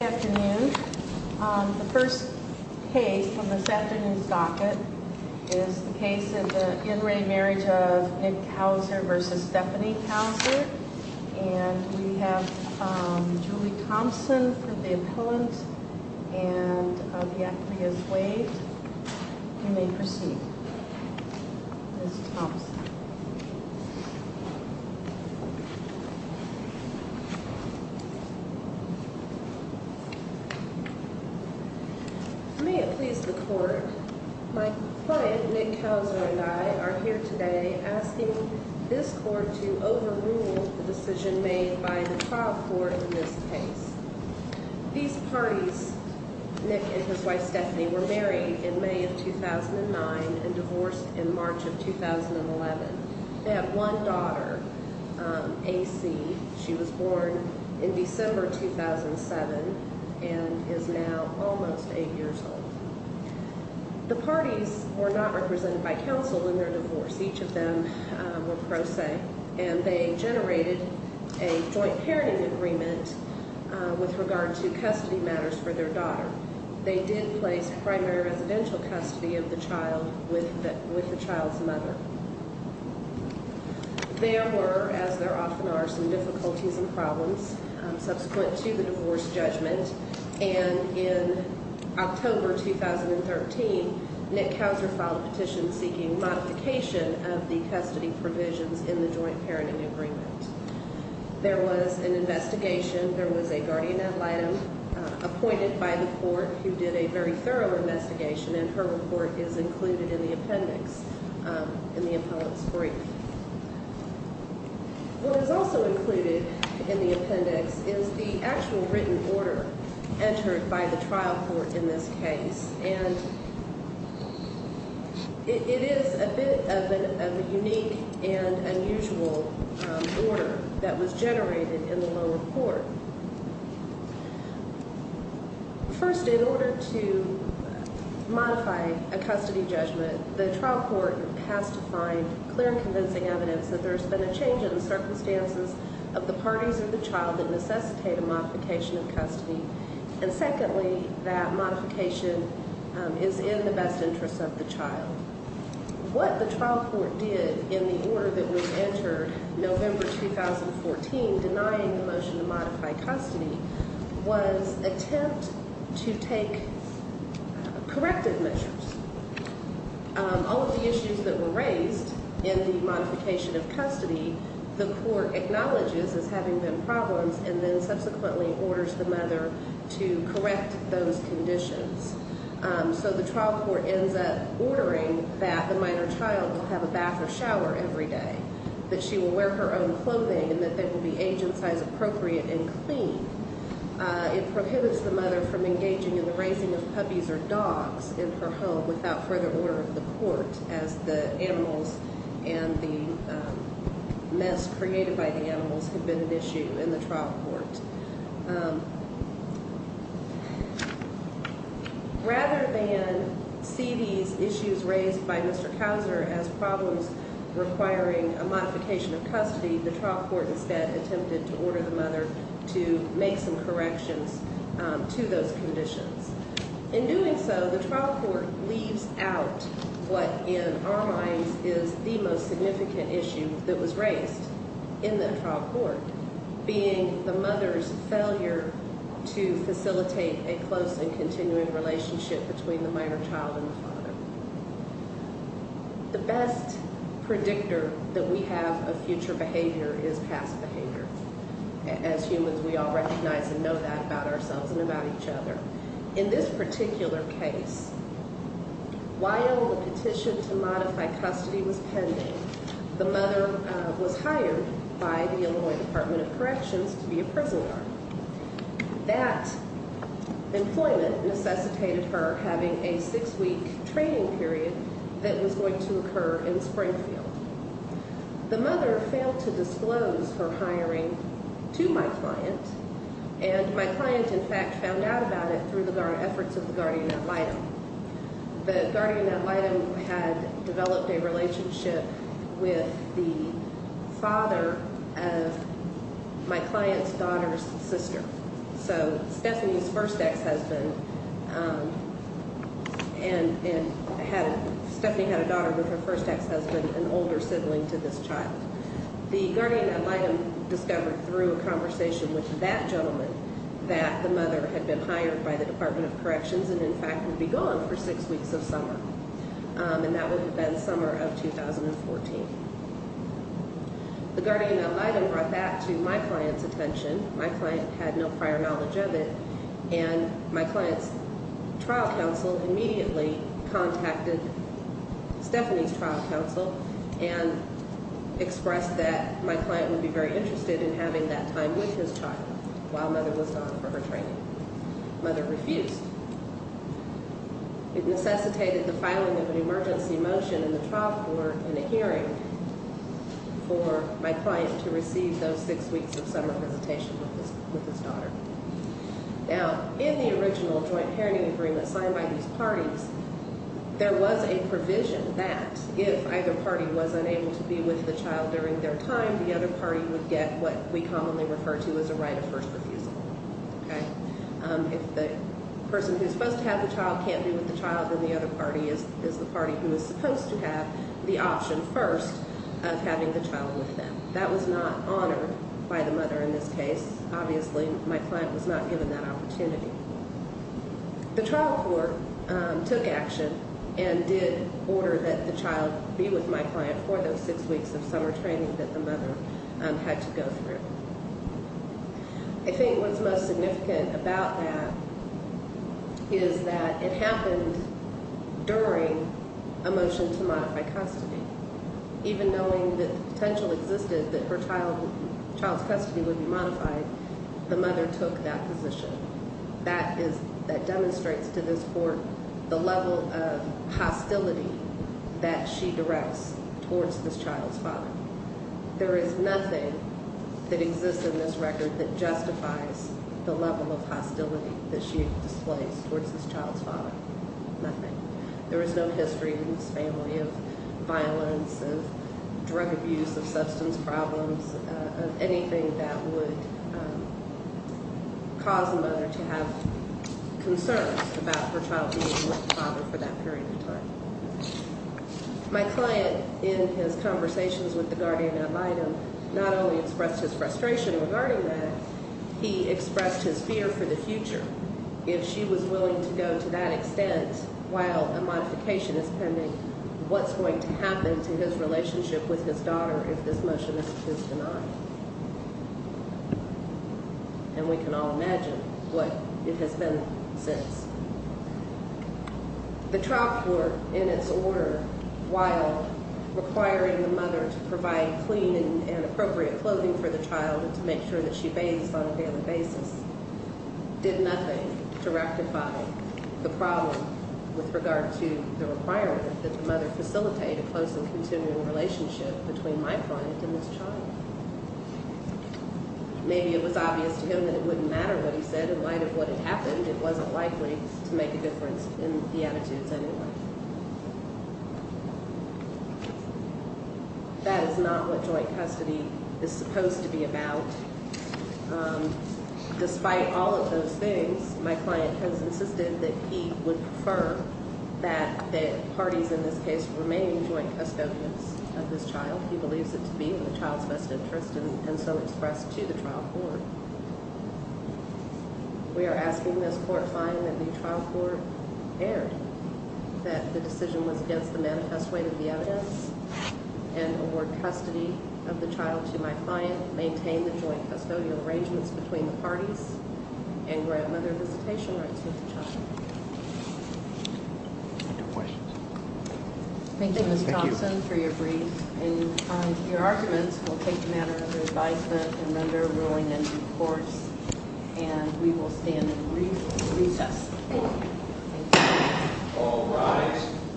Good afternoon. The first case from this afternoon's docket is the case of the in re marriage of Nick Cowser versus Stephanie Cowser, and we have Julie Thompson for the appellant and of Yaclias Wade. You may proceed, Ms. Thompson. May it please the court. My client Nick Cowser and I are here today asking this court to overrule the decision made by the trial court in this case. These parties, Nick and his wife Stephanie, were married in May of 2009 and divorced in March of 2011. They have one daughter, AC. She was born in December 2007 and is now almost eight years old. The parties were not represented by counsel in their divorce. Each of them were pro se, and they generated a joint parenting agreement with regard to custody matters for their daughter. They did place primary residential custody of the child with the child's mother. There were, as there often are, some difficulties and problems subsequent to the divorce judgment, and in October 2013, Nick Cowser filed a petition seeking modification of the custody provisions in the joint parenting agreement. There was an investigation. There was a guardian ad litem appointed by the court who did a very thorough investigation, and her report is included in the appendix in the appellant's brief. What is also included in the appendix is the actual written order entered by the trial court in this case, and it is a bit of a unique and unusual order that was generated in the lower court. First, in order to modify a custody judgment, the trial court has to find clear and convincing evidence that there's been a change in the circumstances of the parties of the child that necessitate a modification of custody, and secondly, that modification is in the best interest of the child. What the trial court did in the order that was entered November 2014 denying the motion to modify custody was attempt to take corrective measures. All of the issues that were raised in the modification of custody, the court acknowledges as having been problems and then subsequently orders the mother to correct those conditions. So the trial court ends up ordering that the minor child will have a bath or shower every day, that she will wear her own clothing, and that they will be age and size appropriate and clean. It prohibits the mother from engaging in the raising of puppies or dogs in her home without further order of the court, as the animals and the mess created by the animals had been an issue in the trial court. Rather than see these issues raised by Mr. Couser as problems requiring a modification of custody, the trial court instead attempted to order the mother to make some corrections to those conditions. In doing so, the trial court leaves out what in our minds is the most significant issue that was raised in the trial court, being the mother's failure to facilitate a close and continuing relationship between the minor child and the father. The best predictor that we have of future behavior is past behavior. As humans, we all recognize and know that about ourselves and about each other. In this particular case, while the petition to modify custody was pending, the mother was hired by the Illinois Department of Corrections to be a prison guard. That employment necessitated her having a six-week training period that was going to occur in Springfield. The mother failed to disclose her hiring to my client, and my client, in fact, found out about it through the efforts of the guardian ad litem. The guardian ad litem had developed a relationship with the father of my client's daughter's sister. Stephanie's first ex-husband, and Stephanie had a daughter with her first ex-husband, an older sibling to this child. The guardian ad litem discovered through a conversation with that gentleman that the mother had been hired by the Department of Corrections and, in fact, would be gone for six weeks of summer. That would have been the summer of 2014. The guardian ad litem brought that to my client's attention. My client had no prior knowledge of it, and my client's trial counsel immediately contacted Stephanie's trial counsel and expressed that my client would be very interested in having that time with his child while Mother was gone for her training. Mother refused. It necessitated the filing of an emergency motion in the trial court in a hearing for my client to receive those six weeks of summer visitation with his daughter. Now, in the original joint parenting agreement signed by these parties, there was a provision that if either party was unable to be with the child during their time, the other party would get what we commonly refer to as a right of first refusal. If the person who's supposed to have the child can't be with the child, then the other party is the party who is supposed to have the option first of having the child with them. That was not honored by the mother in this case. Obviously, my client was not given that opportunity. The trial court took action and did order that the child be with my client for those six weeks of summer training that the mother had to go through. I think what's most significant about that is that it happened during a motion to modify custody. Even knowing that the potential existed that her child's custody would be modified, the mother took that position. That demonstrates to this court the level of hostility that she directs towards this child's father. There is nothing that exists in this record that justifies the level of hostility that she displays towards this child's father. Nothing. There is no history in this family of violence, of drug abuse, of substance problems, of anything that would cause the mother to have concerns about her child being with the father for that period of time. My client, in his conversations with the guardian ad litem, not only expressed his frustration regarding that, he expressed his fear for the future. If she was willing to go to that extent while a modification is pending, what's going to happen to his relationship with his daughter if this motion is denied? And we can all imagine what it has been since. The trial court, in its order, while requiring the mother to provide clean and appropriate clothing for the child and to make sure that she bathes on a daily basis, did nothing to rectify the problem with regard to the requirement that the mother facilitate a close and continual relationship between my client and this child. Maybe it was obvious to him that it wouldn't matter what he said in light of what had happened. It wasn't likely to make a difference in the attitudes of anyone. That is not what joint custody is supposed to be about. Despite all of those things, my client has insisted that he would prefer that the parties in this case remain joint custodians of this child. He believes it to be in the child's best interest and so expressed to the trial court. We are asking this court find that the trial court erred, that the decision was against the manifest way of the evidence and award custody of the child to my client. Maintain the joint custodial arrangements between the parties and grandmother visitation rights with the child. No questions. Thank you, Mr. Thompson, for your brief. And your arguments will take the matter under advisement and under a ruling in due course. And we will stand in recess. All rise.